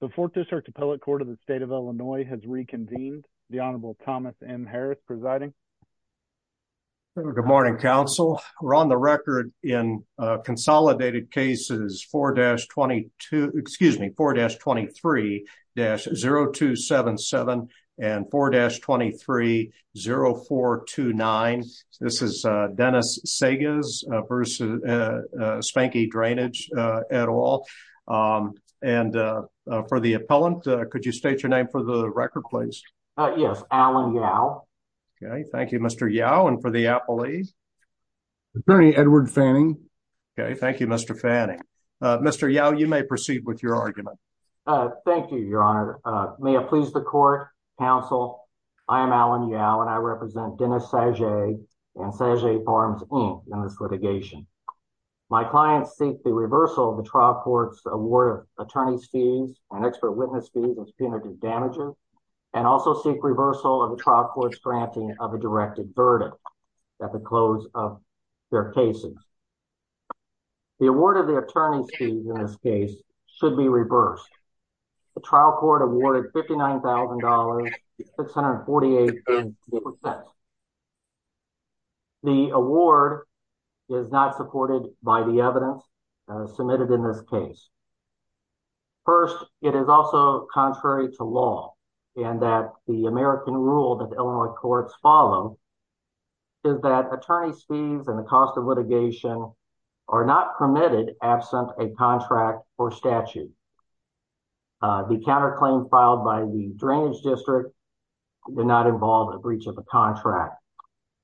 The 4th District Appellate Court of the State of Illinois has reconvened. The Honorable Thomas M. Harris presiding. Good morning, counsel. We're on the record in consolidated cases 4-22, excuse me, 4-23-0277 and 4-23-0429. This is Dennis Sagez v. Spankey Drainage, et al. And for the appellant, could you state your name for the record, please? Yes, Alan Yow. Okay, thank you, Mr. Yow. And for the appellee? Attorney Edward Fanning. Okay, thank you, Mr. Fanning. Mr. Yow, you may proceed with your argument. Thank you, Your Honor. May it please the court, counsel, I am Alan Yow, and I represent Dennis Sagez and Sagez Farms, Inc. in this litigation. My clients seek the reversal of the trial court's award of attorney's fees and expert witness fees and subpoena damages, and also seek reversal of the trial court's granting of a directed verdict at the close of their cases. The award of the attorney's fees in this case should be reversed. The trial court awarded $59,000, 648,000. The award is not supported by the evidence submitted in this case. First, it is also contrary to law in that the American rule that Illinois courts follow is that attorney's fees and the cost of litigation are not permitted absent a contract or statute. The counterclaim filed by the drainage district did not involve a breach of a contract,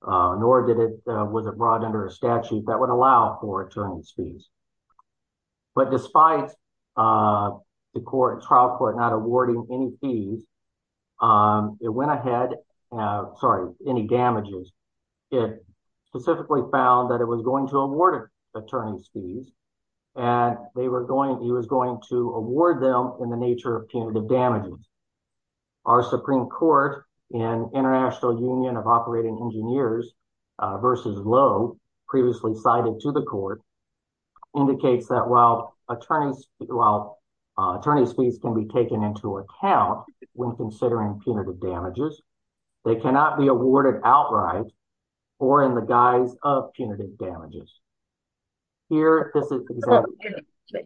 nor was it brought under a statute that would allow for attorney's fees. But despite the trial court not awarding any damages, it specifically found that it was going to award attorney's fees, and it was going to award them in the nature of punitive damages. Our Supreme Court in International Union of Operating Engineers versus Lowe, previously cited to the court, indicates that while attorney's fees can be taken into account when considering punitive damages, they cannot be awarded outright or in the guise of punitive damages.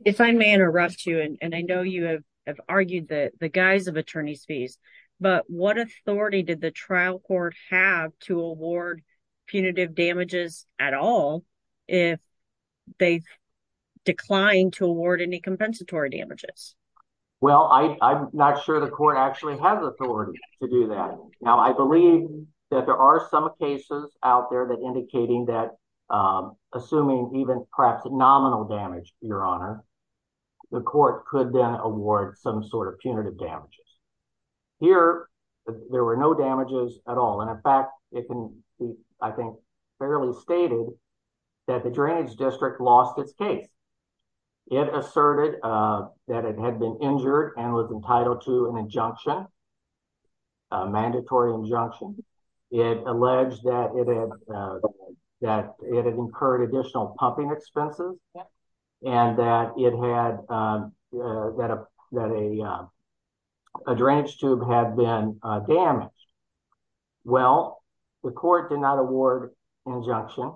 If I may interrupt you, and I know you have argued the guise of attorney's fees, but what authority did the trial court have to award punitive damages at all if they declined to award any compensatory damages? Well, I'm not sure the court actually has authority to do that. Now, I believe that there are some cases out there that indicating that, assuming even perhaps nominal damage, Your Honor, the court could then award some sort of punitive damages. Here, there were no damages at all. And in fact, it can be, I think, fairly stated that the drainage district lost its case. It asserted that it had been injured and was entitled to an injunction, a mandatory injunction. It alleged that it had incurred additional pumping expenses and that a drainage tube had been damaged. Well, the court did not award injunction.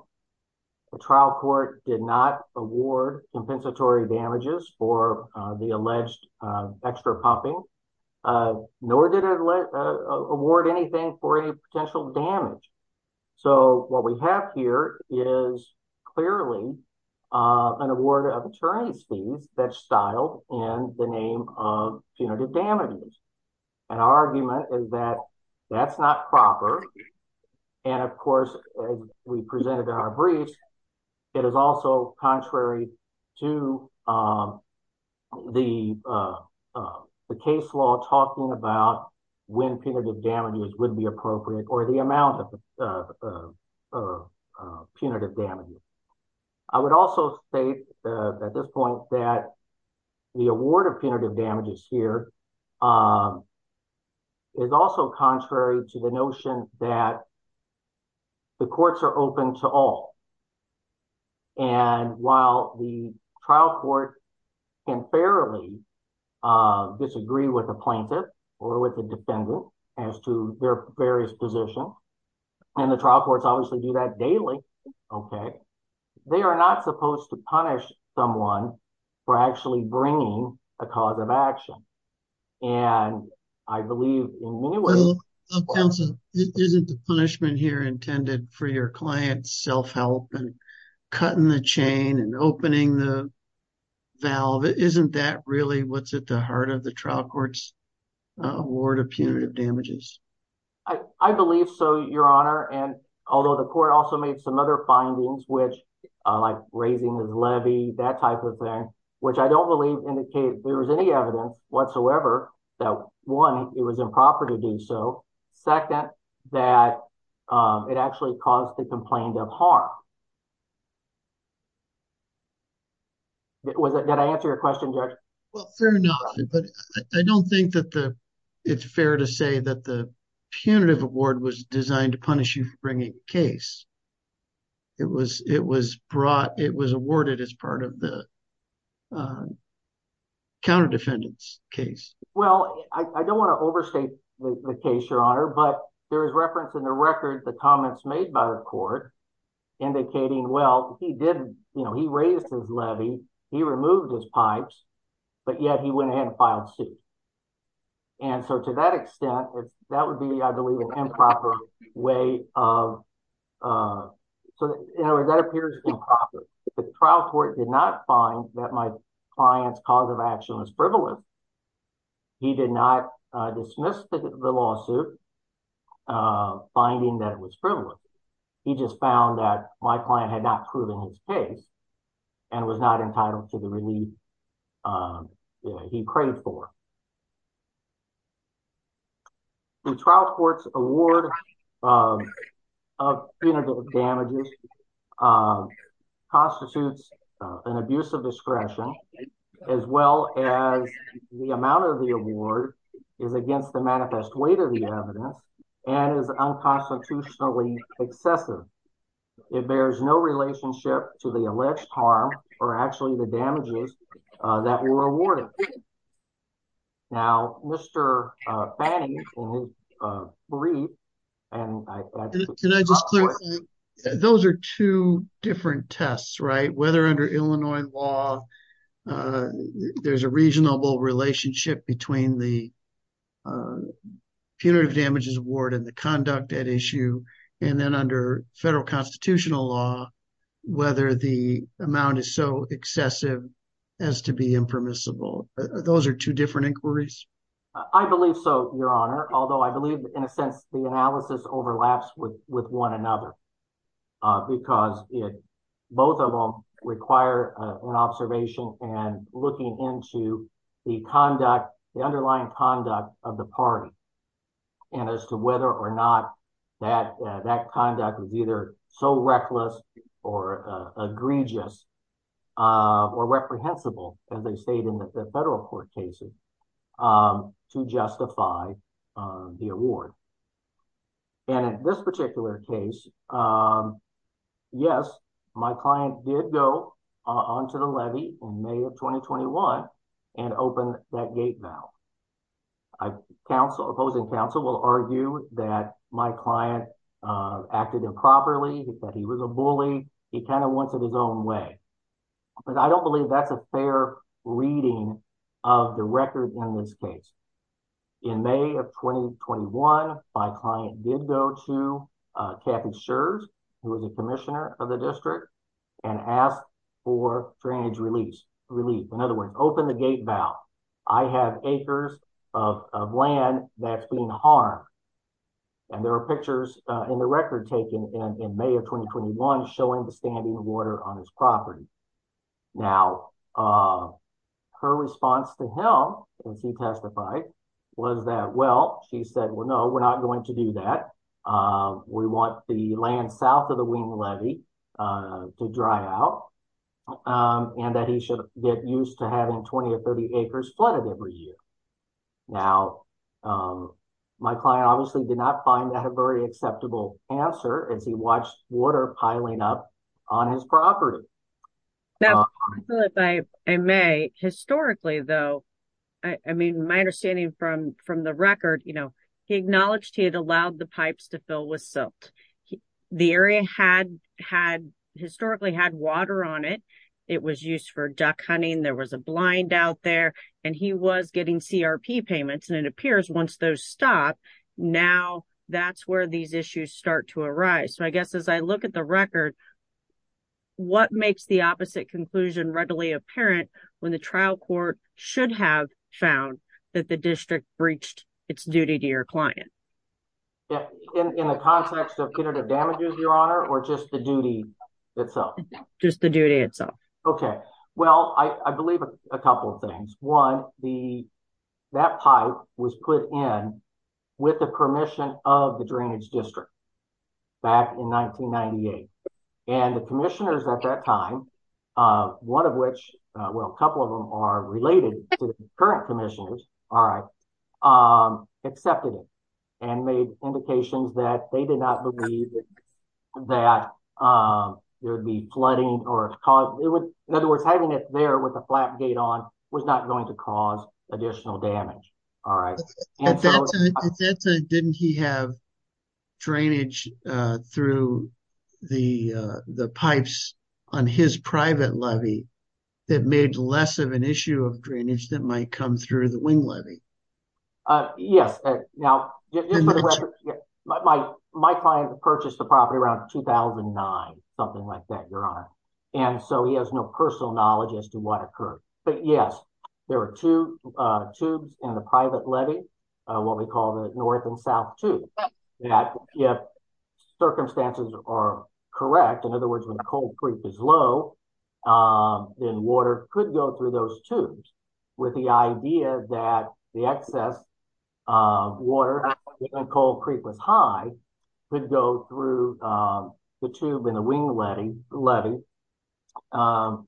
The trial court did not award compensatory damages for the alleged extra pumping. Nor did it award anything for any potential damage. So what we have here is clearly an award of attorney's fees that's styled in the name of punitive damages. And our argument is that that's not proper. And, of course, as we presented in our briefs, it is also contrary to the case law talking about when punitive damages would be appropriate or the amount of punitive damages. I would also state at this point that the award of punitive damages here is also contrary to the notion that the courts are open to all. And while the trial court can fairly disagree with the plaintiff or with the defendant as to their various positions, and the trial courts obviously do that daily, okay, they are not supposed to punish someone for actually bringing a cause of action. And I believe in many ways… Counsel, isn't the punishment here intended for your client's self-help and cutting the chain and opening the valve? Isn't that really what's at the heart of the trial court's award of punitive damages? I believe so, Your Honor. And although the court also made some other findings, like raising the levy, that type of thing, which I don't believe indicated there was any evidence whatsoever that, one, it was improper to do so, second, that it actually caused the complaint of harm. Did I answer your question, Judge? Well, fair enough. But I don't think that it's fair to say that the punitive award was designed to punish you for bringing a case. It was awarded as part of the counter-defendant's case. Well, I don't want to overstate the case, Your Honor, but there is reference in the record, the comments made by the court, indicating, well, he raised his levy, he removed his pipes, but yet he went ahead and filed suit. And so to that extent, that would be, I believe, an improper way of, so in other words, that appears improper. The trial court did not find that my client's cause of action was frivolous. He did not dismiss the lawsuit, finding that it was frivolous. He just found that my client had not proven his case and was not entitled to the relief he prayed for. The trial court's award of punitive damages constitutes an abuse of discretion, as well as the amount of the award is against the manifest weight of the evidence and is unconstitutionally excessive. It bears no relationship to the alleged harm or actually the damages that were awarded. Now, Mr. Fanny will brief. Can I just clarify? Those are two different tests, right? Whether under Illinois law, there's a reasonable relationship between the punitive damages award and the conduct at issue, and then under federal constitutional law, whether the amount is so excessive as to be impermissible. Those are two different inquiries. I believe so, your honor. Although I believe in a sense, the analysis overlaps with one another, because both of them require an observation and looking into the conduct, the underlying conduct of the party and as to whether or not that conduct was either so reckless or egregious or reprehensible, as they state in the federal court cases, to justify the award. And in this particular case, yes, my client did go onto the levy in May of 2021 and open that gate valve. Opposing counsel will argue that my client acted improperly. He said he was a bully. He kind of wanted his own way. But I don't believe that's a fair reading of the record in this case. In May of 2021, my client did go to Kathy Scherz, who was a commissioner of the district, and asked for drainage relief. In other words, open the gate valve. I have acres of land that's being harmed. And there are pictures in the record taken in May of 2021 showing the standing water on his property. Now, her response to him when she testified was that, well, she said, well, no, we're not going to do that. We want the land south of the Wien levy to dry out and that he should get used to having 20 or 30 acres flooded every year. Now, my client obviously did not find that a very acceptable answer as he watched water piling up on his property. Now, if I may, historically, though, I mean, my understanding from the record, you know, he acknowledged he had allowed the pipes to fill with silt. The area historically had water on it. It was used for duck hunting. There was a blind out there and he was getting CRP payments. And it appears once those stop, now that's where these issues start to arise. So I guess as I look at the record, what makes the opposite conclusion readily apparent when the trial court should have found that the district breached its duty to your client? In the context of punitive damages, Your Honor, or just the duty itself? Just the duty itself. Okay. Well, I believe a couple of things. One, the, that pipe was put in with the permission of the drainage district. Back in 1998. And the commissioners at that time, one of which, well, a couple of them are related to the current commissioners. All right. Accepted it. And made indications that they did not believe. That there'd be flooding or cause it would, in other words, having it there with a flat gate on was not going to cause additional damage. All right. Didn't he have. Drainage through the, the pipes. On his private levy. That made less of an issue of drainage that might come through the wing of the private levy. Yes. Now. My client purchased the property around 2009, something like that. Your honor. And so he has no personal knowledge as to what occurred, but yes. There were two tubes in the private levy. What we call the North and South too. Yeah. Circumstances are correct. In other words, when the cold creep is low. In water could go through those tubes. With the idea that the excess. Water. Cold creep was high. We'd go through the tube in the wing.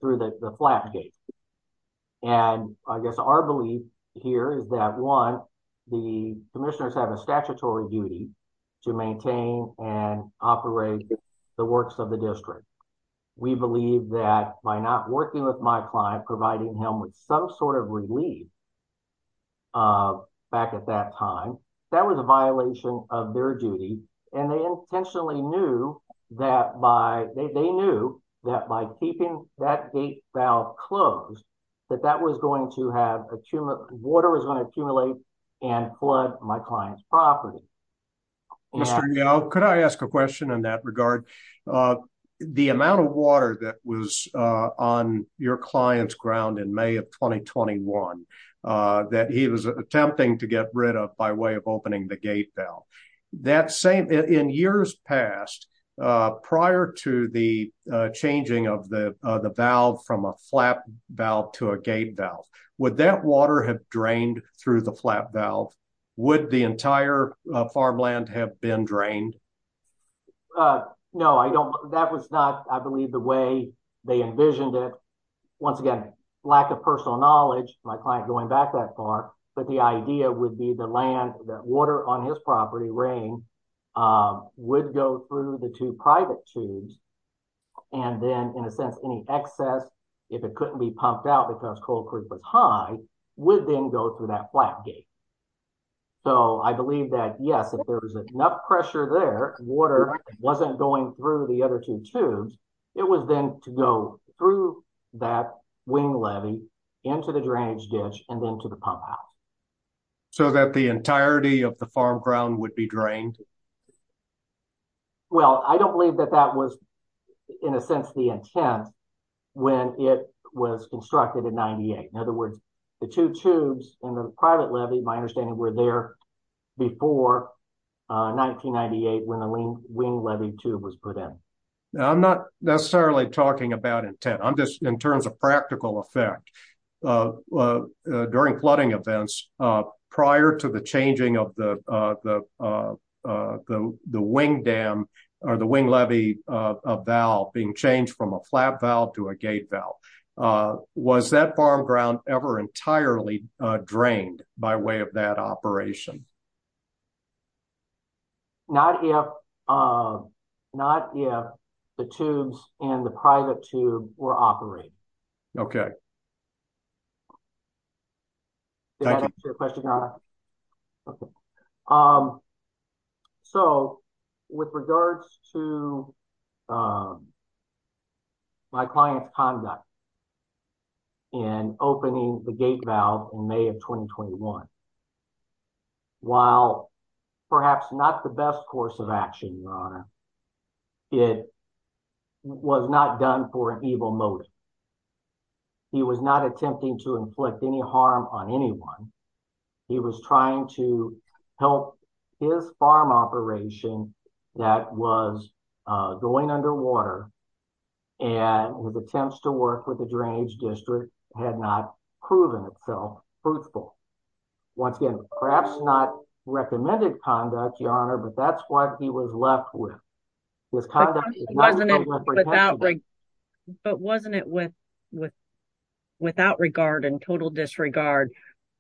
Through the flat gate. And I guess our belief here is that one. The commissioners have a statutory duty. To maintain and operate. The works of the district. We believe that by not working with my client, providing him with some sort of relief. Back at that time. That was a violation of their duty. And they intentionally knew. That by. They knew that by keeping that. Now close. That that was going to have a tumor. Water is going to accumulate. And flood my client's property. Thank you. Mr. Young. Could I ask a question in that regard? The amount of water that was on your client's ground in may of 2021. That he was attempting to get rid of by way of opening the gate valve. That same. In years past. Prior to the. The. Changing of the valve from a flap valve to a gate valve. Would that water have drained through the flap valve? Would the entire farmland have been drained? No, I don't. That was not, I believe the way. They envisioned it. Once again. Lack of personal knowledge. My client going back that far. The idea would be the land that water on his property. Rain. Would go through the two private tubes. And then in a sense, any excess. If it couldn't be pumped out because cold creek was high. Within go through that flap gate. So I believe that yes, if there was enough pressure there. Water. Wasn't going through the other two tubes. It was then to go through that. Wing Levy. And then to the pump house. So that the entirety of the farm ground would be drained. Well, I don't believe that that was. In a sense, the intent. When it was constructed in 98. In other words. The two tubes and the private levy. My understanding were there. Before. 1998. When the wing levy tube was put in. I'm not necessarily talking about intent. I'm just in terms of practical effect. During flooding events. Prior to the changing of the. The wing dam. Or the wing levy. I'm sorry. I'm trying to think. About being changed from a flap valve to a gate valve. Was that farm ground ever entirely. Drained by way of that operation. Not here. Not yet. The tubes and the private tube. We're operating. Okay. Okay. So with regards to. My client's conduct. And opening the gate valve in may of 2021. While perhaps not the best course of action. It was not done for an evil motive. He was not attempting to inflict any harm on anyone. He was trying to help. His farm operation. That was. Going underwater. And with attempts to work with the drainage district. Had not proven itself. Once again, perhaps not. Recommended conduct your honor, but that's what he was left with. I don't know. But wasn't it with. Without regard and total disregard.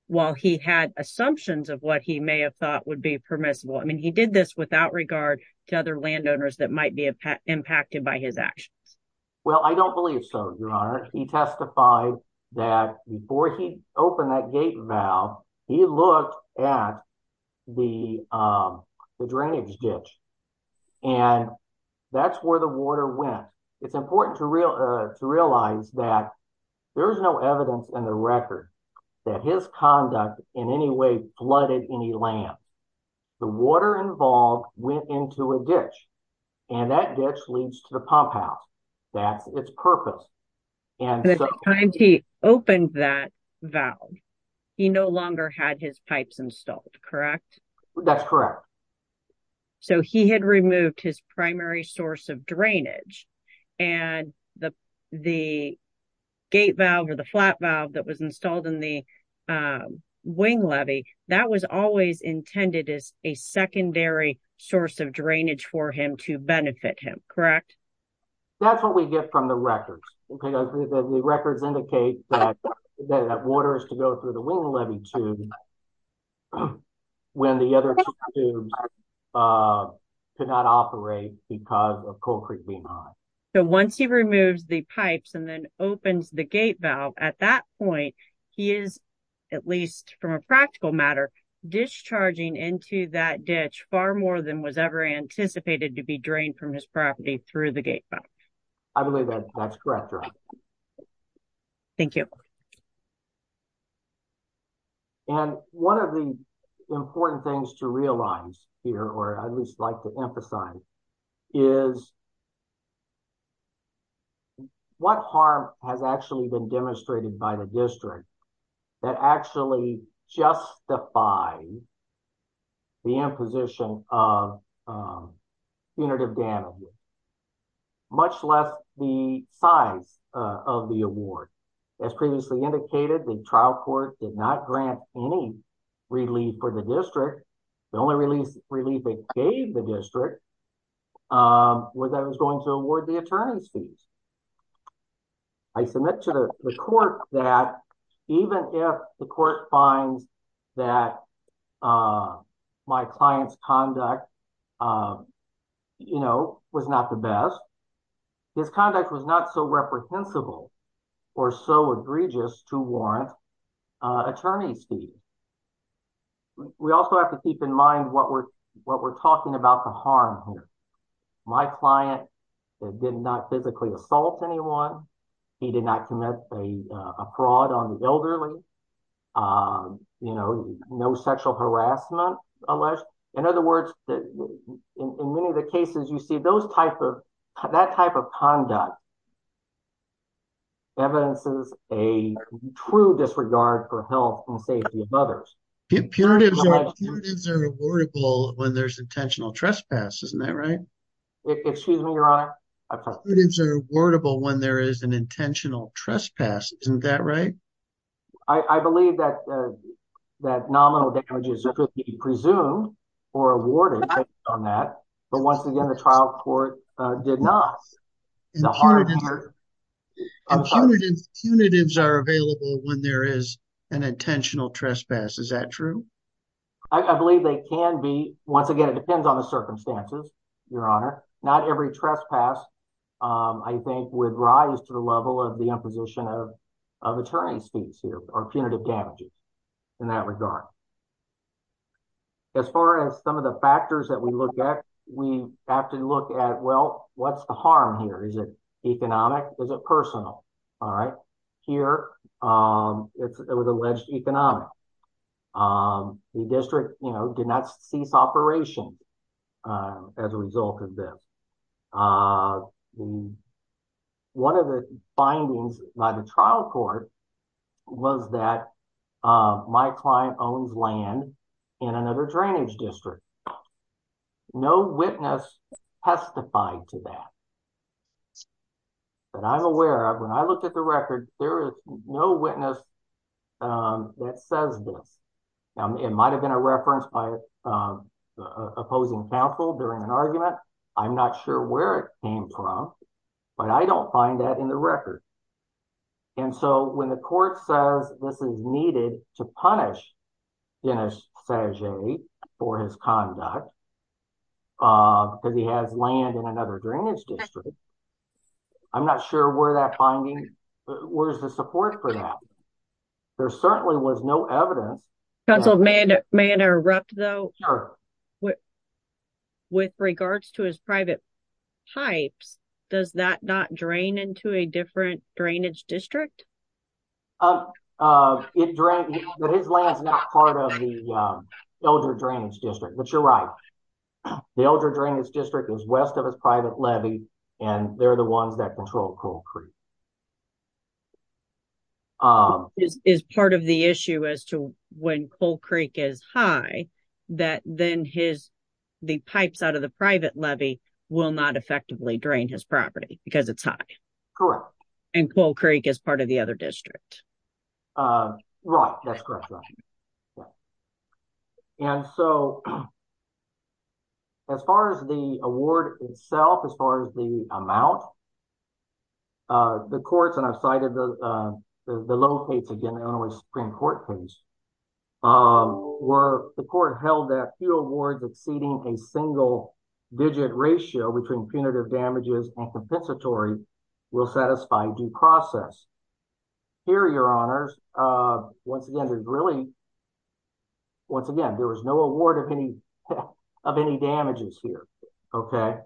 While he had assumptions of what he may have thought would be permissible. I mean, he did this without regard to other landowners that might be. Impacted by his actions. Well, I don't believe so. Your honor. He testified. That before he opened that gate valve. He looked at. The. Drainage ditch. And that's where the water went. It's important to real. To realize that. There was no evidence in the record. That his conduct in any way. Flooded any land. The water involved. Went into a ditch. And that ditch leads to the pump house. That's its purpose. And. He opened that valve. And that's what we get from the records. Okay. He no longer had his pipes installed. Correct. That's correct. So he had removed his primary source of drainage. And the. The gate valve or the flat valve that was installed in the. Wing levy. That was always intended as a secondary source of drainage for him to benefit him. Correct. That's what we get from the record. The records indicate that. That water is to go through the wing levy. When the other. Could not operate because of. So once he removes the pipes and then opens the gate valve at that point. He is. At least from a practical matter. Discharging into that ditch. And that's what we get from the record. So he was far more than was ever anticipated to be drained from his property through the gate. I believe that. That's correct. Thank you. And one of the important things to realize here, or at least like to emphasize. Is. What harm has actually been demonstrated by the district. That actually justifies. The imposition of punitive damage. Much less the size of the award. As previously indicated, the trial court did not grant any. Relief for the district. The only release relief. The district. Was I was going to award the attorney's fees. I submit to the court that. Even if the court finds that. My client's conduct. You know, was not the best. His conduct was not so reprehensible. Or so egregious to warrant. Attorney's fees. We also have to keep in mind what we're. What we're talking about the harm here. The harm here. Is that my client. Did not physically assault anyone. He did not commit a fraud on the elderly. You know, no sexual harassment. Unless. In other words. In many of the cases you see those types of that type of conduct. And so. Evidence is a. True disregard for health and safety of others. When there's intentional trespass. Isn't that right? Excuse me, your honor. When there is an intentional trespass. Isn't that right? I believe that. That nominal damages. Presumed or awarded. On that. But once again, the trial court. Did not. Punitives are available when there is an intentional trespass. Is that true? I believe they can be. Once again, it depends on the circumstances. Your honor. Not every trespass. I think would rise to the level of the imposition of. Of attorney's fees here are punitive damages. In that regard. As far as some of the factors that we look at. We have to look at, well, what's the harm here? Is it economic? Is it personal? All right. Here. It was alleged economic. The district. You know, did not cease operation. As a result of this. One of the findings by the trial court. Was that. My client owns land. In another drainage district. No witness. Testified to that. But I'm aware of when I looked at the record, there is no witness. That says this. It might've been a reference by. Opposing counsel during an argument. I'm not sure where it came from. But I don't find that in the record. And so when the court says this is needed to punish. For his conduct. Because he has land in another drainage district. I'm not sure where that finding. Where's the support for that? There certainly was no evidence. Council may interrupt though. With regards to his private. Pipes. Does that not drain into a different drainage district? It drank. Part of the. Elder drainage district, but you're right. The elder drainage district is west of his private levy. And they're the ones that control. And so. That's correct. That's correct. And so. As far as the award itself, as far as the amount. Okay. So. The courts and I've cited the. The locates again. Supreme court case. Where the court held that few awards exceeding a single. Digit ratio between punitive damages and compensatory. We'll satisfy due process. Here are your honors. Once again, there's really. Once again, there was no award of any. Of any damages here. Okay.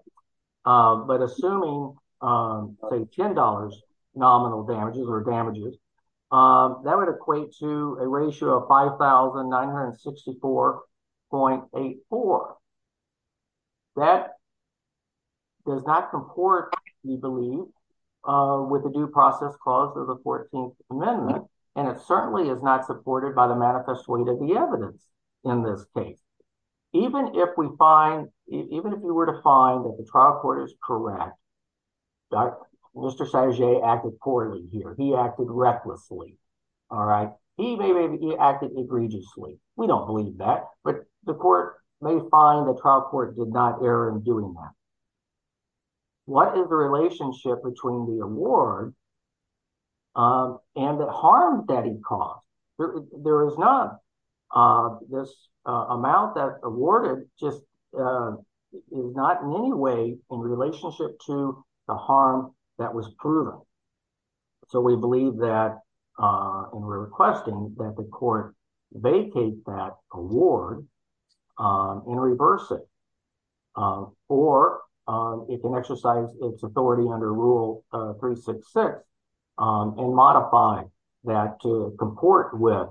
But assuming. $10. Nominal damages or damages. That would equate to a ratio of 5,000. 964. Point eight, four. That. Does not comport. We believe. Okay. With the due process clause of the 14th amendment. And it certainly is not supported by the manifest way to the evidence. In this case. Even if we find. Even if you were to find that the trial court is correct. Mr. Mr. He acted recklessly. All right. He acted egregiously. We don't believe that, but the court. May find the trial court did not err in doing that. What is the relationship between the award? And the harm that he caused. There is not. This. Amount that awarded just. Not in any way. In relationship to the harm. That was proven. So we believe that. And we're requesting that the court. Vacate that award. Vacate that award. And reverse it. Or. It can exercise its authority under rule three, six, six. And modify that to comport with.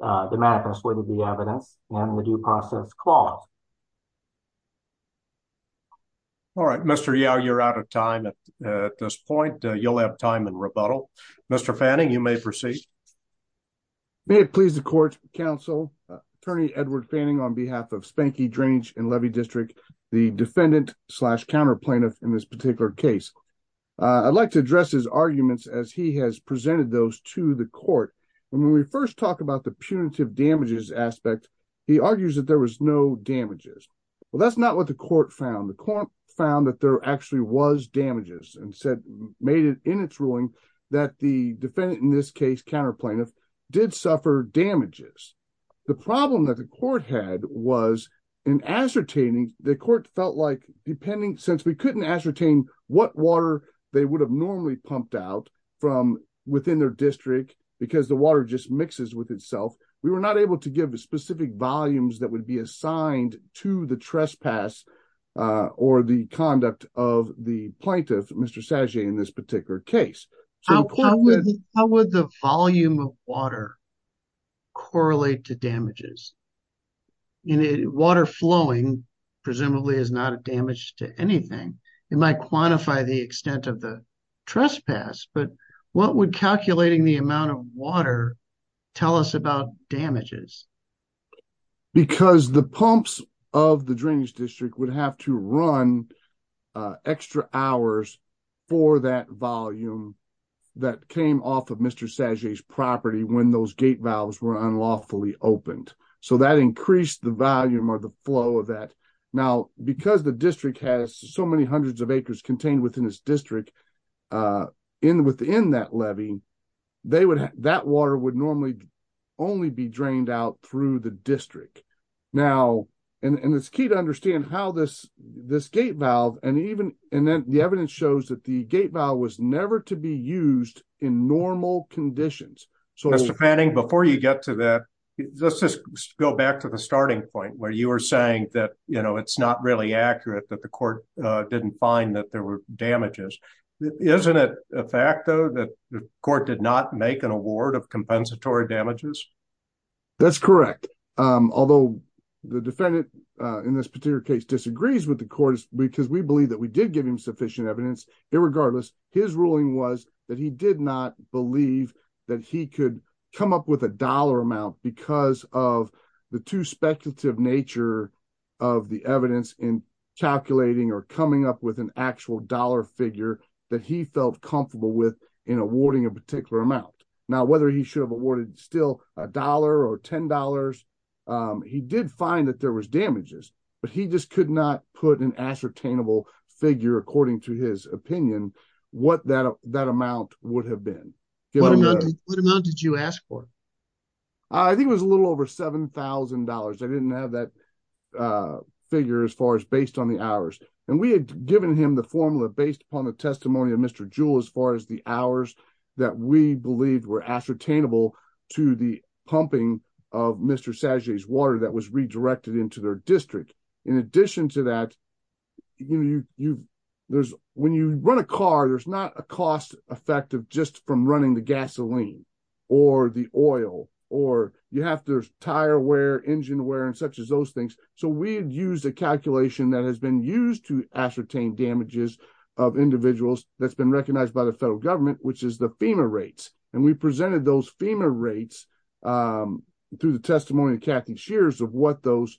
The manifest way to the evidence and the due process clause. All right, Mr. Yao, you're out of time at this point. You'll have time and rebuttal. Mr. Fanning. You may proceed. May it please the court. Counsel. Attorney Edward Fanning on behalf of spanky drainage and levy district. The defendant. Slash counter plaintiff in this particular case. I'd like to address his arguments as he has presented those to the court. When we first talk about the punitive damages aspect. He argues that there was no damages. Well, that's not what the court found. The court found that there actually was damages and said, made it in its ruling. That the defendant in this case, counter plaintiff did suffer damages. The problem that the court had was. In ascertaining the court felt like depending since we couldn't ascertain what water they would have normally pumped out from within their district, because the water just mixes with itself. We were not able to give a specific volumes that would be assigned to the trespass. Or the conduct of the plaintiff, Mr. Sanjay in this particular case. How would the volume of water. Correlate to damages. Water flowing. Presumably is not a damage to anything. It might quantify the extent of the trespass, but what would calculating the amount of water. Tell us about damages. Because the pumps of the drainage district would have to run. For a certain amount of time. And they would have to run. Extra hours for that volume. That came off of Mr. Sanjay's property when those gate valves were unlawfully opened. So that increased the volume or the flow of that. Now, because the district has so many hundreds of acres contained within this district. In within that levy. They would have that water would normally. Only be drained out through the district. Now. And it's key to understand how this, this gate valve. And even. And then the evidence shows that the gate valve was never to be used in normal conditions. So. Before you get to that. Let's just go back to the starting point where you were saying that, you know, it's not really accurate that the court. Didn't find that there were damages. And that there were no compensatory damages. Isn't it. A fact though, that the court did not make an award of compensatory damages. That's correct. Although. The defendant in this particular case disagrees with the court. Because we believe that we did give him sufficient evidence. Irregardless. His ruling was that he did not believe. That he could come up with a dollar amount because of. The two speculative nature. Of the evidence in calculating or coming up with an actual dollar figure. That he felt comfortable with in awarding a particular amount. Now, whether he should have awarded still a dollar or $10. He did find that there was damages. But he just could not put an ascertainable figure according to his opinion. What that, that amount would have been. What amount did you ask for? I think it was a little over $7,000. I didn't have that. Figure as far as based on the hours. And we had given him the formula based upon the testimony of mr. Jewel, as far as the hours. That we believed were ascertainable to the pumping. Of mr. Saturday's water that was redirected into their district. In addition to that. You. There's when you run a car, there's not a cost. Effective just from running the gasoline. Or the oil, or you have to tire wear engine wear and such as those things. So we've used a calculation that has been used to ascertain damages. Of individuals that's been recognized by the federal government, which is the FEMA rates. And we presented those FEMA rates. Through the testimony of Kathy shears of what those.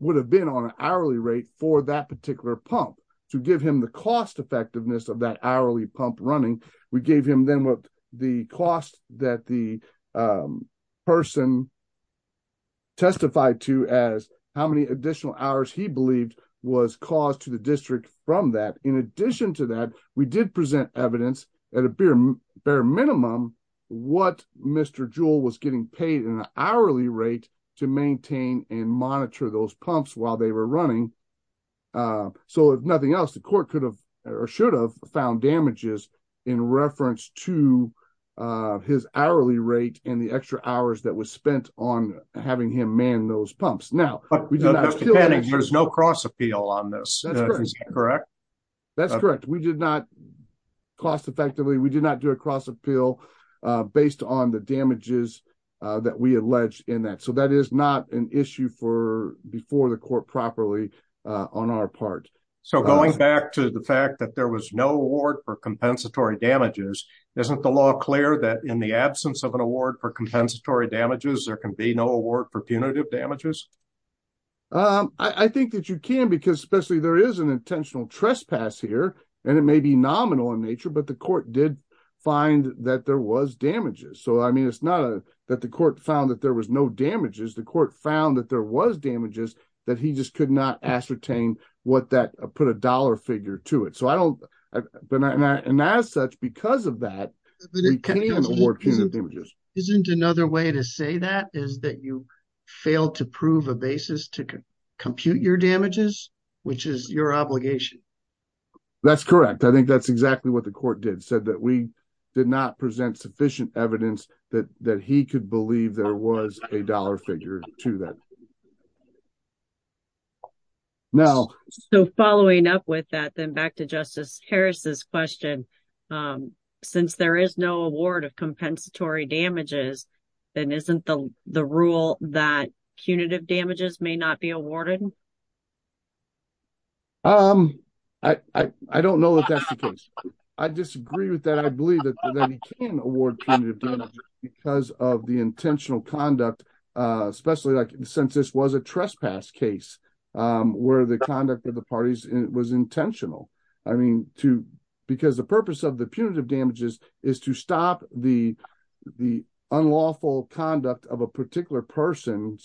Would have been on an hourly rate for that particular pump. To give him the cost effectiveness of that hourly pump running. And we gave him then what the cost that the. Person. Testified to as how many additional hours he believed. Was caused to the district from that. In addition to that. We did present evidence. At a bare minimum. What mr. Jewel was getting paid in an hourly rate. To maintain and monitor those pumps while they were running. So if nothing else, the court could have. Or should have found damages in reference to. His hourly rate and the extra hours that was spent on. Having him man those pumps now. There's no cross appeal on this. Correct. That's correct. We did not. Cost effectively. We did not do a cross appeal. Based on the damages. That we alleged in that. So that is not an issue for. Before the court properly on our part. So going back to the fact that there was no award for compensatory damages. Isn't the law clear that in the absence of an award for compensatory damages, there can be no award for punitive damages. I think that you can, because especially there is an intentional trespass here. And it may be nominal in nature, but the court did. Find that there was damages. So, I mean, it's not. That the court found that there was no damages. The court found that there was damages that he just could not ascertain what that put a dollar figure to it. So I don't. And as such, because of that. Isn't another way to say that is that you. Failed to prove a basis to compute your damages. Which is your obligation. That's correct. I think that's exactly what the court did. Said that we did not present sufficient evidence that, that he could believe there was a dollar figure to that. Now, so following up with that, then back to justice Harris's question. Since there is no award of compensatory damages. Then isn't the rule that punitive damages may not be awarded. I don't know if that's the case. I disagree with that. I believe that he can award. Because of the intentional conduct, Especially like since this was a trespass case. Where the conduct of the parties was intentional. I mean, too. Because the purpose of the punitive damages is to stop the. The unlawful conduct of a particular person.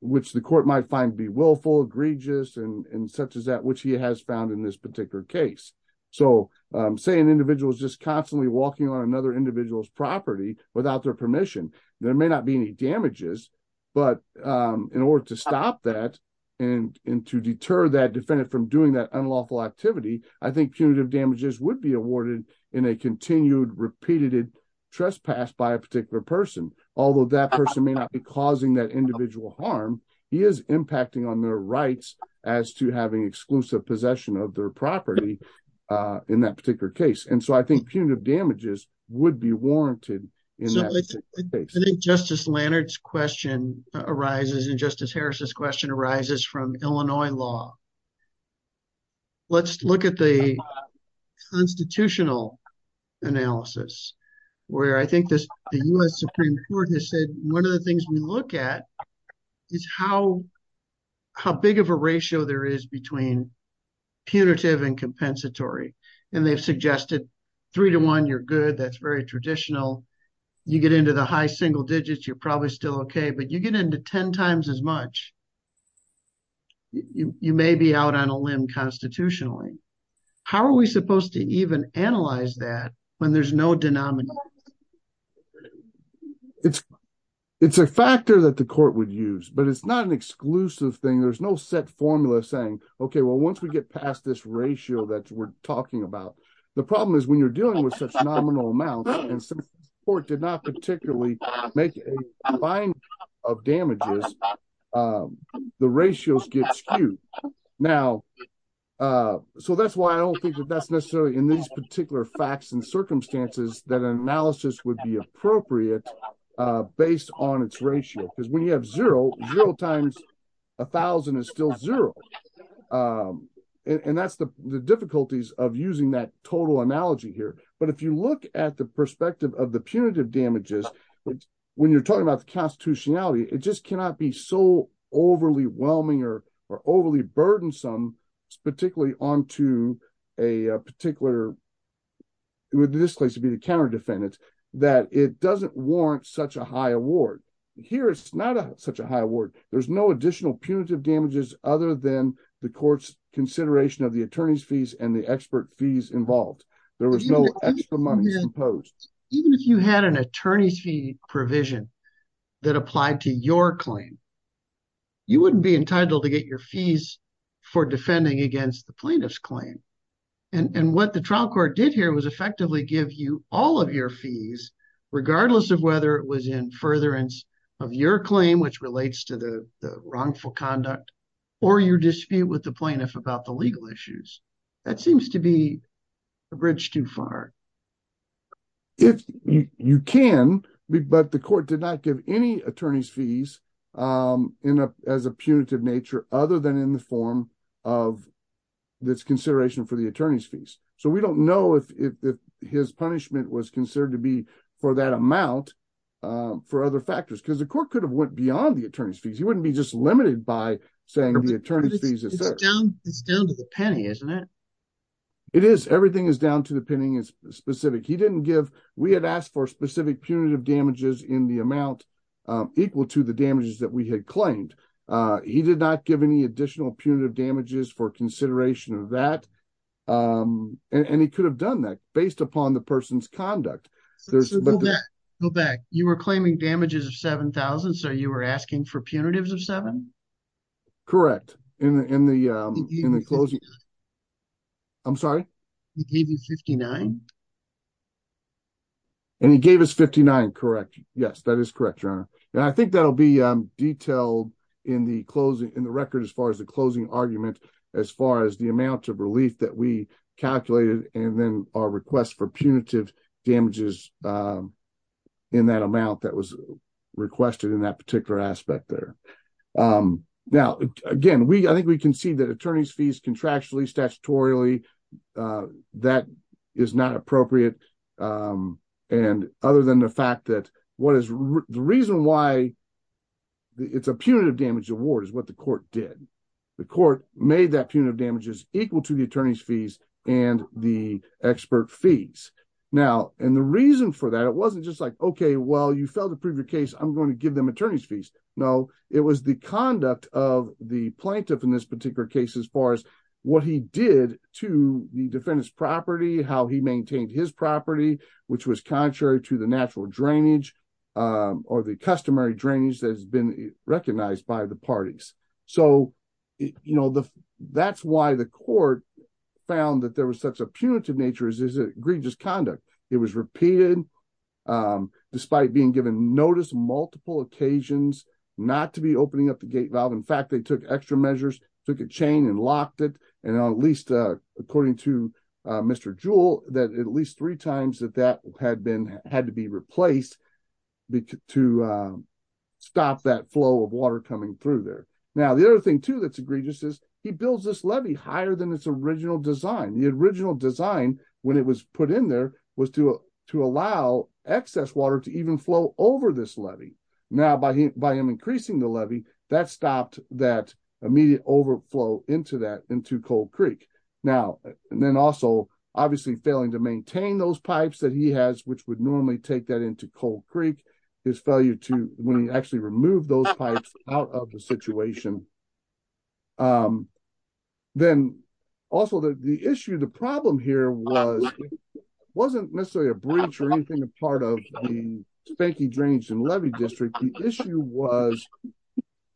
Which the court might find be willful, egregious. And such as that, which he has found in this particular case. So say an individual is just constantly walking on another individual's property without their permission. There may not be any damages, but in order to stop that. And to deter that defendant from doing that unlawful activity, I think punitive damages would be awarded in a continued repeated. Trespass by a particular person, although that person may not be causing that individual harm. He is impacting on their rights as to having exclusive possession of their property. In that particular case. And so I think punitive damages would be warranted. I think justice Leonard's question arises in justice Harris's question arises from Illinois law. Let's look at the. Constitutional. Analysis. Where I think this. Supreme court has said, one of the things we look at. Is how. How big of a ratio there is between. Punitive and compensatory. And they've suggested. Three to one, you're good. That's very traditional. You get into the high single digits. You're probably still. Okay. But you get into 10 times as much. You may be out on a limb constitutionally. How are we supposed to even analyze that? When there's no denominator. It's a factor that the court would use, but it's not an exclusive thing. There's no set formula saying, okay, well, once we get past this ratio that we're talking about, The problem is when you're dealing with such nominal amounts. Or did not particularly. Make a fine. Of damages. The ratios get skewed. Now. So that's why I don't think that that's necessarily in these particular facts and circumstances that analysis would be appropriate. Based on its ratio. Because when you have zero zero times. A thousand is still zero. And that's the, the difficulties of using that total analogy here. But if you look at the perspective of the punitive damages. When you're talking about the constitutionality, it just cannot be so overly whelming or, or overly burdensome. Particularly onto a particular. Would this place to be the counter defendants that it doesn't warrant such a high award. Here it's not such a high award. I mean, there's no additional punitive damages other than the court's consideration of the attorney's fees and the expert fees involved. There was no extra money imposed. Even if you had an attorney's fee provision. That applied to your claim. You wouldn't be entitled to get your fees. For defending against the plaintiff's claim. And what the trial court did here was effectively give you all of your fees. Regardless of whether it was in furtherance of your claim, which relates to the wrongful conduct. Or your dispute with the plaintiff about the legal issues. That seems to be a bridge too far. If you can be, but the court did not give any attorney's fees. In a, as a punitive nature, other than in the form of. The attorney's fees. The court did not give any additional punitive damages. That's consideration for the attorney's fees. So we don't know if, if, if his punishment was considered to be for that amount. For other factors. Cause the court could have went beyond the attorney's fees. He wouldn't be just limited by saying the attorney's fees. It's down to the penny. Isn't it. It is. Everything is down to the pinning is specific. He didn't give. We had asked for specific punitive damages in the amount. Of $7,000. Equal to the damages that we had claimed. He did not give any additional punitive damages for consideration of that. And he could have done that based upon the person's conduct. Go back. You were claiming damages of 7,000. So you were asking for punitives of seven. Correct. In the, in the, in the closing. I'm sorry. He gave you 59. And he gave us 59. Correct. Yes, that is correct. And I think that'll be detailed. In the closing in the record, as far as the closing argument. As far as the amount of relief that we calculated and then our request for punitive damages. In that amount that was requested in that particular aspect there. Now, again, we, I think we can see that attorney's fees contractually statutorily. That is not appropriate. And other than the fact that what is the reason why. It's a punitive damage award is what the court did. The court made that punitive damages equal to the attorney's fees and the expert fees. Now, and the reason for that, it wasn't just like, okay, well, You know, it was the conduct of the plaintiff in this particular case, as far as what he did to the defendant's property, how he maintained his property, which was contrary to the natural drainage. Or the customary drainage that has been recognized by the parties. So. You know, the that's why the court. Found that there was such a punitive nature as is egregious conduct. It was repeated. So, you know, the, the court, the court dealt with the case in a similar fashion. Despite being given notice multiple occasions. Not to be opening up the gate valve. In fact, they took extra measures. So it could chain and locked it. And at least according to. Mr. Jewel that at least three times that, that had been, had to be replaced. Because to stop that flow of water coming through there. Now, the other thing too, that's egregious is. He builds this levy higher than its original design. The original design when it was put in there was to, to allow excess water to even flow over this levy. Now by him, by him, increasing the levy that stopped that. Immediate overflow into that into cold Creek. Now, and then also. Obviously failing to maintain those pipes that he has, which would normally take that into cold Creek. His failure to when he actually removed those pipes out of the situation. And so that's a major concern. Then. Also the issue of the problem here was. It wasn't necessarily a breach or anything, a part of the faking drains and levy district. The issue was.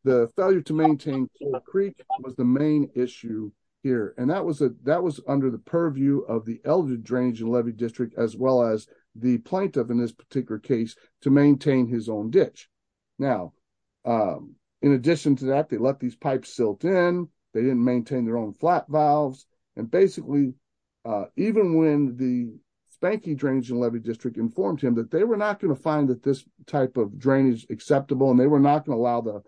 The failure to maintain. It was the main issue here, and that was it? That was under the purview of the elder. Of the drainage and levy district as well as the plaintiff in this particular case to maintain his own ditch. Now, in addition to that, they let these pipes silt in. They didn't maintain their own flat valves. And basically. Even when the. Spanky drains and levy district informed him that they were not going to find that this type of drainage acceptable, and they were not going to allow the.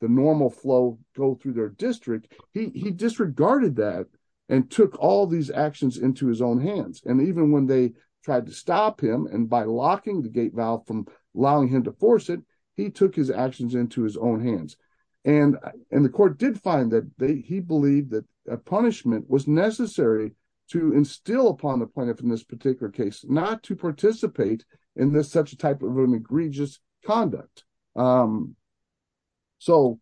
The normal flow go through their district. He disregarded that. And took all these actions into his own hands. And even when they tried to stop him and by locking the gate valve from allowing him to force it, he took his actions into his own hands. And, and the court did find that they, he believed that a punishment was necessary to instill upon the planet from this particular case, not to participate in this such a type of egregious conduct. So. And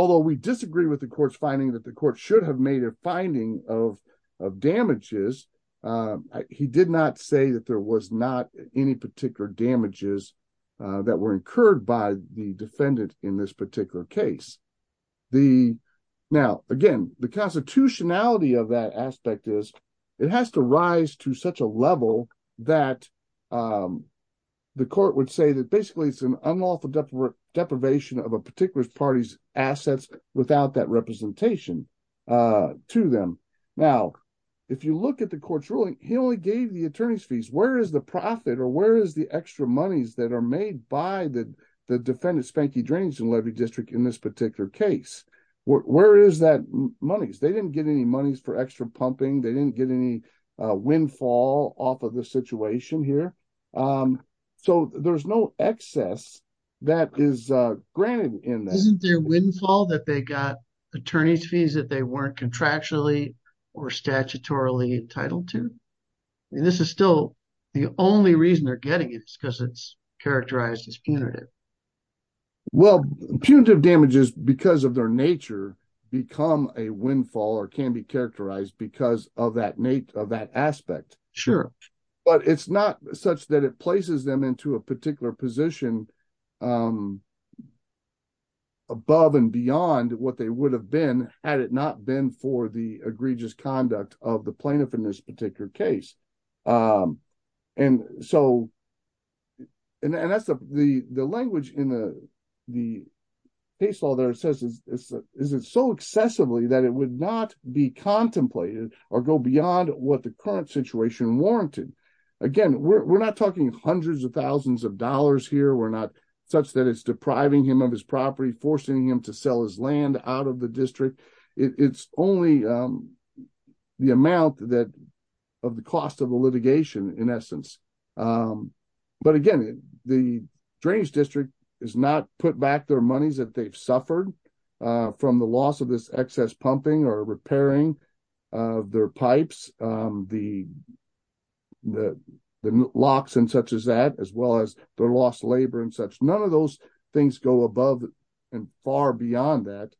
although we disagree with the court's finding that the court should have made a finding of, of damages. He did not say that there was not any particular damages. That were incurred by the defendant in this particular case. The now again, the constitutionality of that aspect is. It has to rise to such a level that. The court would say that basically it's an unlawful deprivation of a particular party's assets without that representation to them. Now, if you look at the court's ruling, he only gave the attorney's fees. Where is the profit? Or where is the extra monies that are made by the, the defendant Spanky drains and levy district in this particular case? Where is that money? They didn't get any monies for extra pumping. They didn't get any windfall off of the situation. So there's no excess. That is granted in their windfall that they got. Attorney's fees that they weren't contractually or statutorily entitled to. And this is still the only reason they're getting it because it's characterized as punitive. Well, punitive damages because of their nature become a windfall or can be characterized because of that Nate of that aspect. Sure. But it's not such that it places them into a particular position. Above and beyond what they would have been, had it not been for the egregious conduct of the plaintiff in this particular case. And so. And that's the, the, the language in the, the. He saw their assessors. Is it so excessively that it would not be contemplated or go beyond what the current situation warranted. Again, we're not talking hundreds of thousands of dollars here. We're not such that it's depriving him of his property, forcing him to sell his land out of the district. It's only. The amount that of the cost of the litigation in essence. But again, the drainage district is not put back their monies that they've suffered from the loss of this excess pumping or repairing their pipes. The, the, the locks and such as that, as well as their lost labor and such. None of those things go above and far beyond that.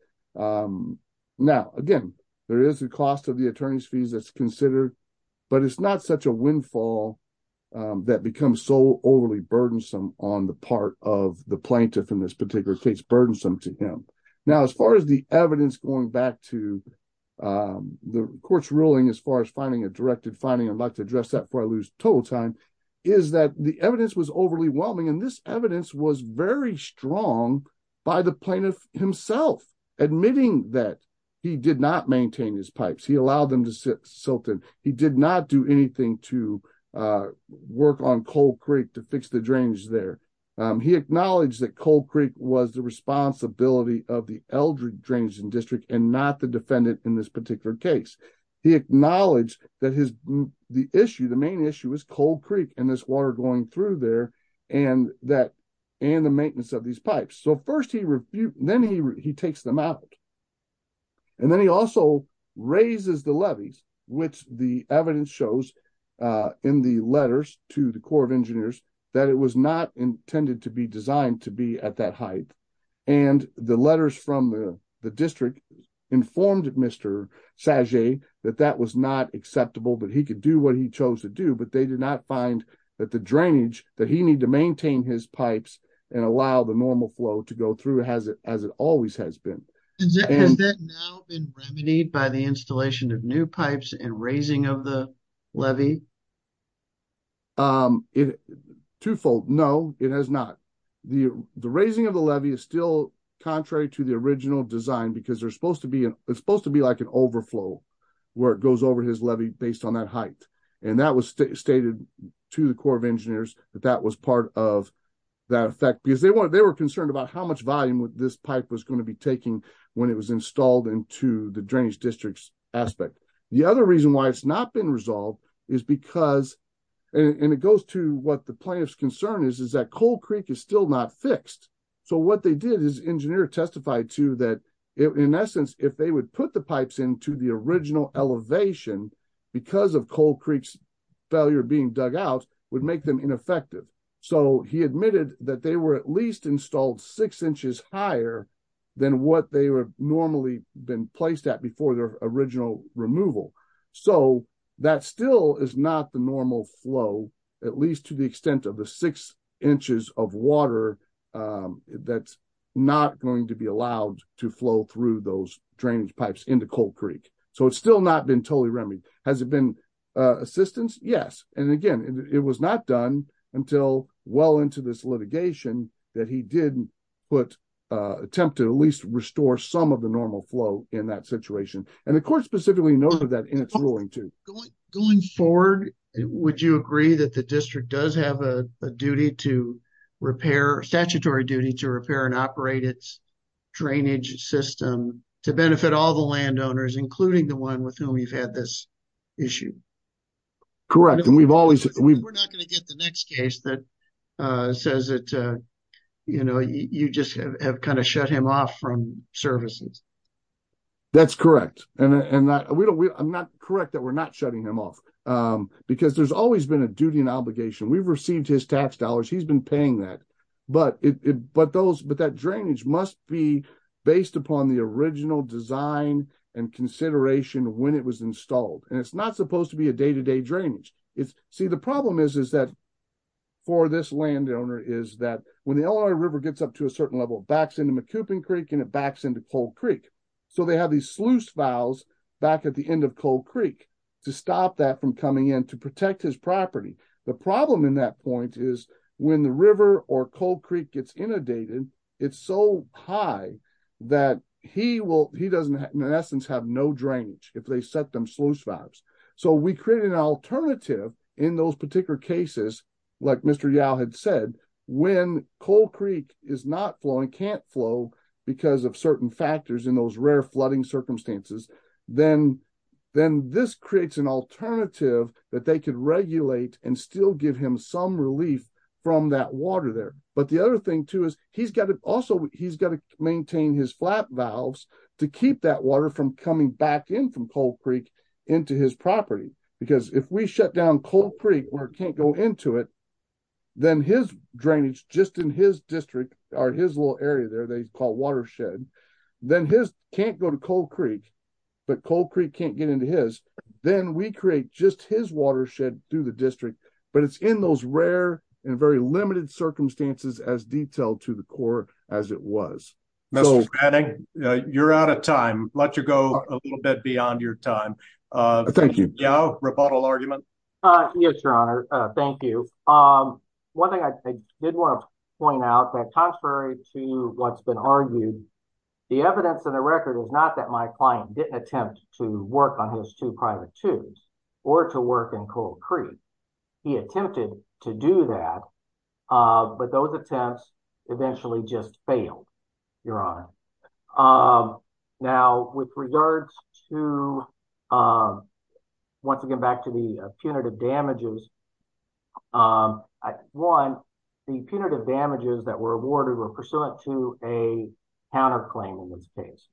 Now, again, there is a cost of the attorney's fees that's considered, but it's not such a windfall that becomes so overly burdensome on the part of the plaintiff in this particular case, burdensome to him. Now, as far as the evidence going back to the court's ruling, as far as finding a directed finding, I'd like to address that before I lose total time is that the evidence was overly whelming. And this evidence was very strong by the plaintiff himself, admitting that he did not maintain his pipes. He allowed them to sit Silton. He did not do anything to work on cold Creek to fix the drainage there. He acknowledged that cold Creek was the responsibility of the elderly drains and district and not the defendant in this particular case. He acknowledged that his, the issue, the main issue was cold Creek and this water going through there. And that, and the maintenance of these pipes. So first he refute, then he, he takes them out. And then he also raises the levies, which the evidence shows in the letters to the core of engineers, that it was not intended to be designed to be at that height. And the letters from the district informed Mr. Sajay that that was not acceptable, but he could do what he chose to do, but they did not find that the drainage that he needed to maintain his pipes and allow the normal flow to go through. Has it, as it always has been. Has that now been remedied by the installation of new pipes and raising of the levy? Twofold. No, it has not. The, the raising of the levy is still contrary to the original design because there's supposed to be an it's supposed to be like an overflow where it goes over his levy based on that height. And that was stated to the core of engineers that that was part of that effect because they want, they were concerned about how much volume would this pipe was going to be taking when it was installed into the drainage districts aspect. The other reason why it's not been resolved is because, and it goes to what the plaintiff's concern is, is that cold Creek is still not fixed. So what they did is engineer testified to that. In essence, if they would put the pipes into the original elevation because of cold Creek's failure being dug out would make them ineffective. So he admitted that they were at least installed six inches higher than what they were normally been placed at before their original removal. So that still is not the normal flow, at least to the extent of the six inches of water that's not going to be allowed to flow through those drainage pipes into cold Creek. So it's still not been totally remedied. Has it been assistance? Yes. And again, it was not done until well into this litigation that he did put attempted at least restore some of the normal flow in that situation. And the court specifically noted that in its ruling to going forward, would you agree that the district does have a duty to repair statutory duty to repair and operate its drainage system to benefit all the landowners, including the one with whom we've had this issue? Correct. And we've always, we're not going to get the next case that says it, you know, you just have kind of shut him off from services. That's correct. And, and that we don't, we I'm not correct that we're not shutting him off because there's always been a duty and obligation. We've received his tax dollars. He's been paying that, but it, but those, but that drainage must be based upon the original design and consideration when it was installed. And it's not supposed to be a day-to-day drainage. It's see, the problem is, is that for this landowner, is that when the LRA river gets up to a certain level, it backs into McCoupin Creek and it backs into cold Creek. So they have these sluice valves back at the end of cold Creek to stop that from coming in to protect his property. The problem in that point is when the river or cold Creek gets inundated, it's so high that he will, he doesn't, in essence, have no drainage if they set them sluice valves. So we created an alternative in those particular cases, like Mr. Yao had said, when cold Creek is not flowing can't flow because of certain factors in those rare flooding circumstances, then, then this creates an alternative that they could regulate and still give him some relief from that water there. But the other thing too, is he's got to, also, he's got to maintain his flat valves to keep that water from coming back in from cold Creek into his property, because if we shut down cold Creek where it can't go into it, then his drainage just in his district or his little area there, where they call watershed, then his can't go to cold Creek, but cold Creek can't get into his, then we create just his watershed through the district, but it's in those rare and very limited circumstances as detailed to the core as it was. You're out of time. Let you go a little bit beyond your time. Thank you. Roboto argument. Yes, your honor. Thank you. One thing I did want to point out that contrary to what's been argued, the evidence in the record is not that my client didn't attempt to work on his two private tubes or to work in cold Creek. He attempted to do that, but those attempts eventually just failed. Your honor. Now with regards to, once again, back to the punitive damages, one, the punitive damages that were awarded were pursuant to a counter claim in this case.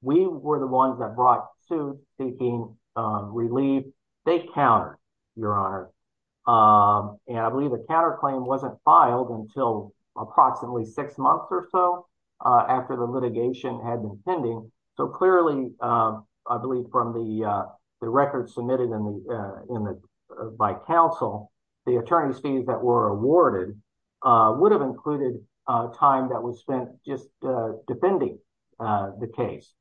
We were the ones that brought to seeking relief. They counter your honor. And I believe the counter claim wasn't filed until approximately six months or so after the litigation had been pending. So clearly I believe from the, the record submitted in the, in the, by council, the attorney's fees that were awarded would have included a time that was spent just defending the case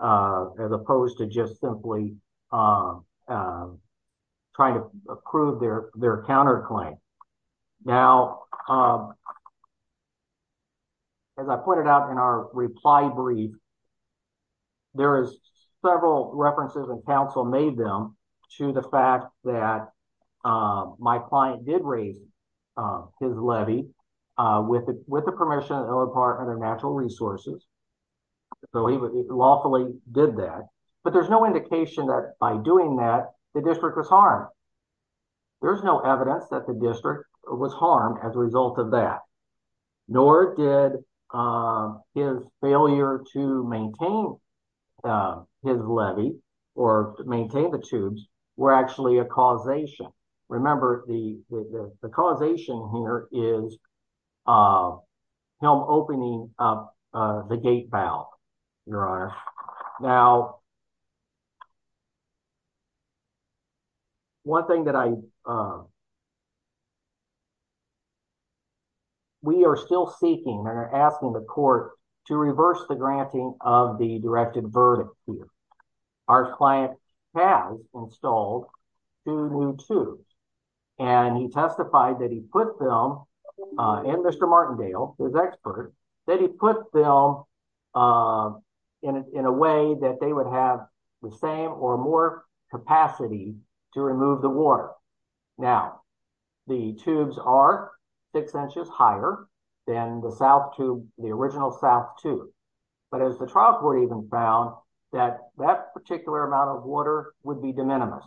as opposed to just simply trying to prove their, their counter claim. Now, as I pointed out in our reply brief, there is several references and council made them to the fact that my client did raise his levy with the, with the permission of our partner natural resources. So he lawfully did that, but there's no indication that by doing that the district was harmed. There's no evidence that the district was harmed as a result of that, nor did his failure to maintain his levy or maintain the tubes were actually a causation. Remember the, the causation here is him opening up the gate valve, your honor. Now, one thing that I, that I would like to point out is that we are still seeking or asking the court to reverse the granting of the directed verdict. Our client has installed two new tubes and he testified that he put them in Mr. Martindale, his expert, that he put them in a, in a way that they would have the same or more capacity to remove the tubes. Now the tubes are six inches higher than the South tube, the original South tube. But as the trial court even found that that particular amount of water would be de minimis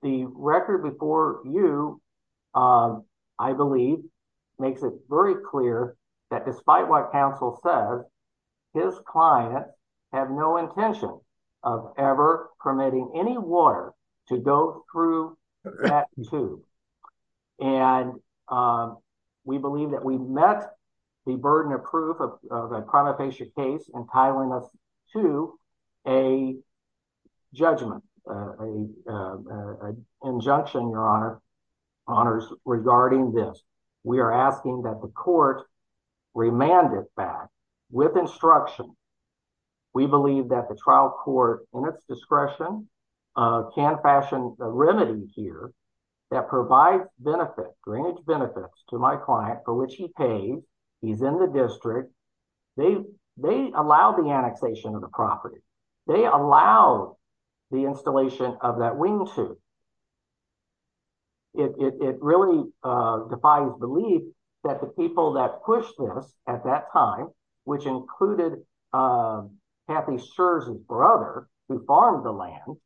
the record before you I believe makes it very clear that despite what counsel says, his client have no intention of ever permitting any water to go through that tube. And, um, we believe that we met the burden of proof of a prima facie case and tiling us to a judgment, a, uh, a injunction your honor honors regarding this. We are asking that the court remanded back with instruction. We believe that the trial court in its discretion, uh, can fashion a remedy here that provides benefit, drainage benefits to my client for which he paid. He's in the district. They, they allow the annexation of the property. They allow the installation of that wing tube. It, it, it really defies belief that the people that pushed this at that time, which included, uh, Matthew Scherz's brother who farmed the land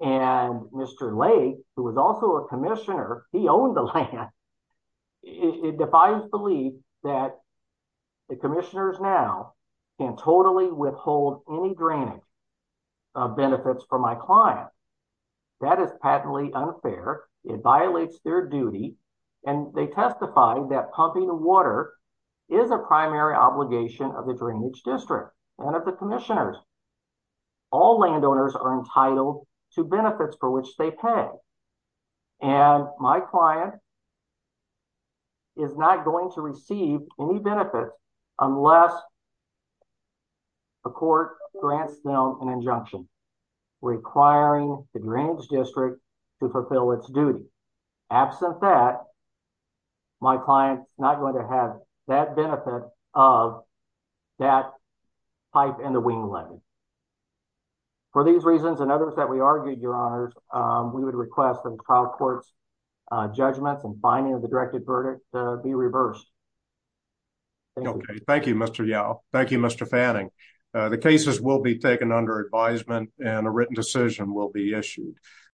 and Mr. Lake, who was also a commissioner. He owned the land. It defies belief that the commissioners now can totally withhold any drainage benefits for my client. That is patently unfair. It violates their duty. And they testify that pumping water is a primary obligation of the commissioners. All landowners are entitled to benefits for which they pay. And my client is not going to receive any benefits unless the court grants them an injunction requiring the drainage district to fulfill its duty. Absent that my client is not going to have that benefit of that pipe and the wing lane. For these reasons and others that we argued, your honors, um, we would request the trial courts, uh, judgments and finding of the directed verdict to be reversed. Okay. Thank you, Mr. Yow. Thank you, Mr. Fanning. The cases will be taken under advisement and a written decision will be issued.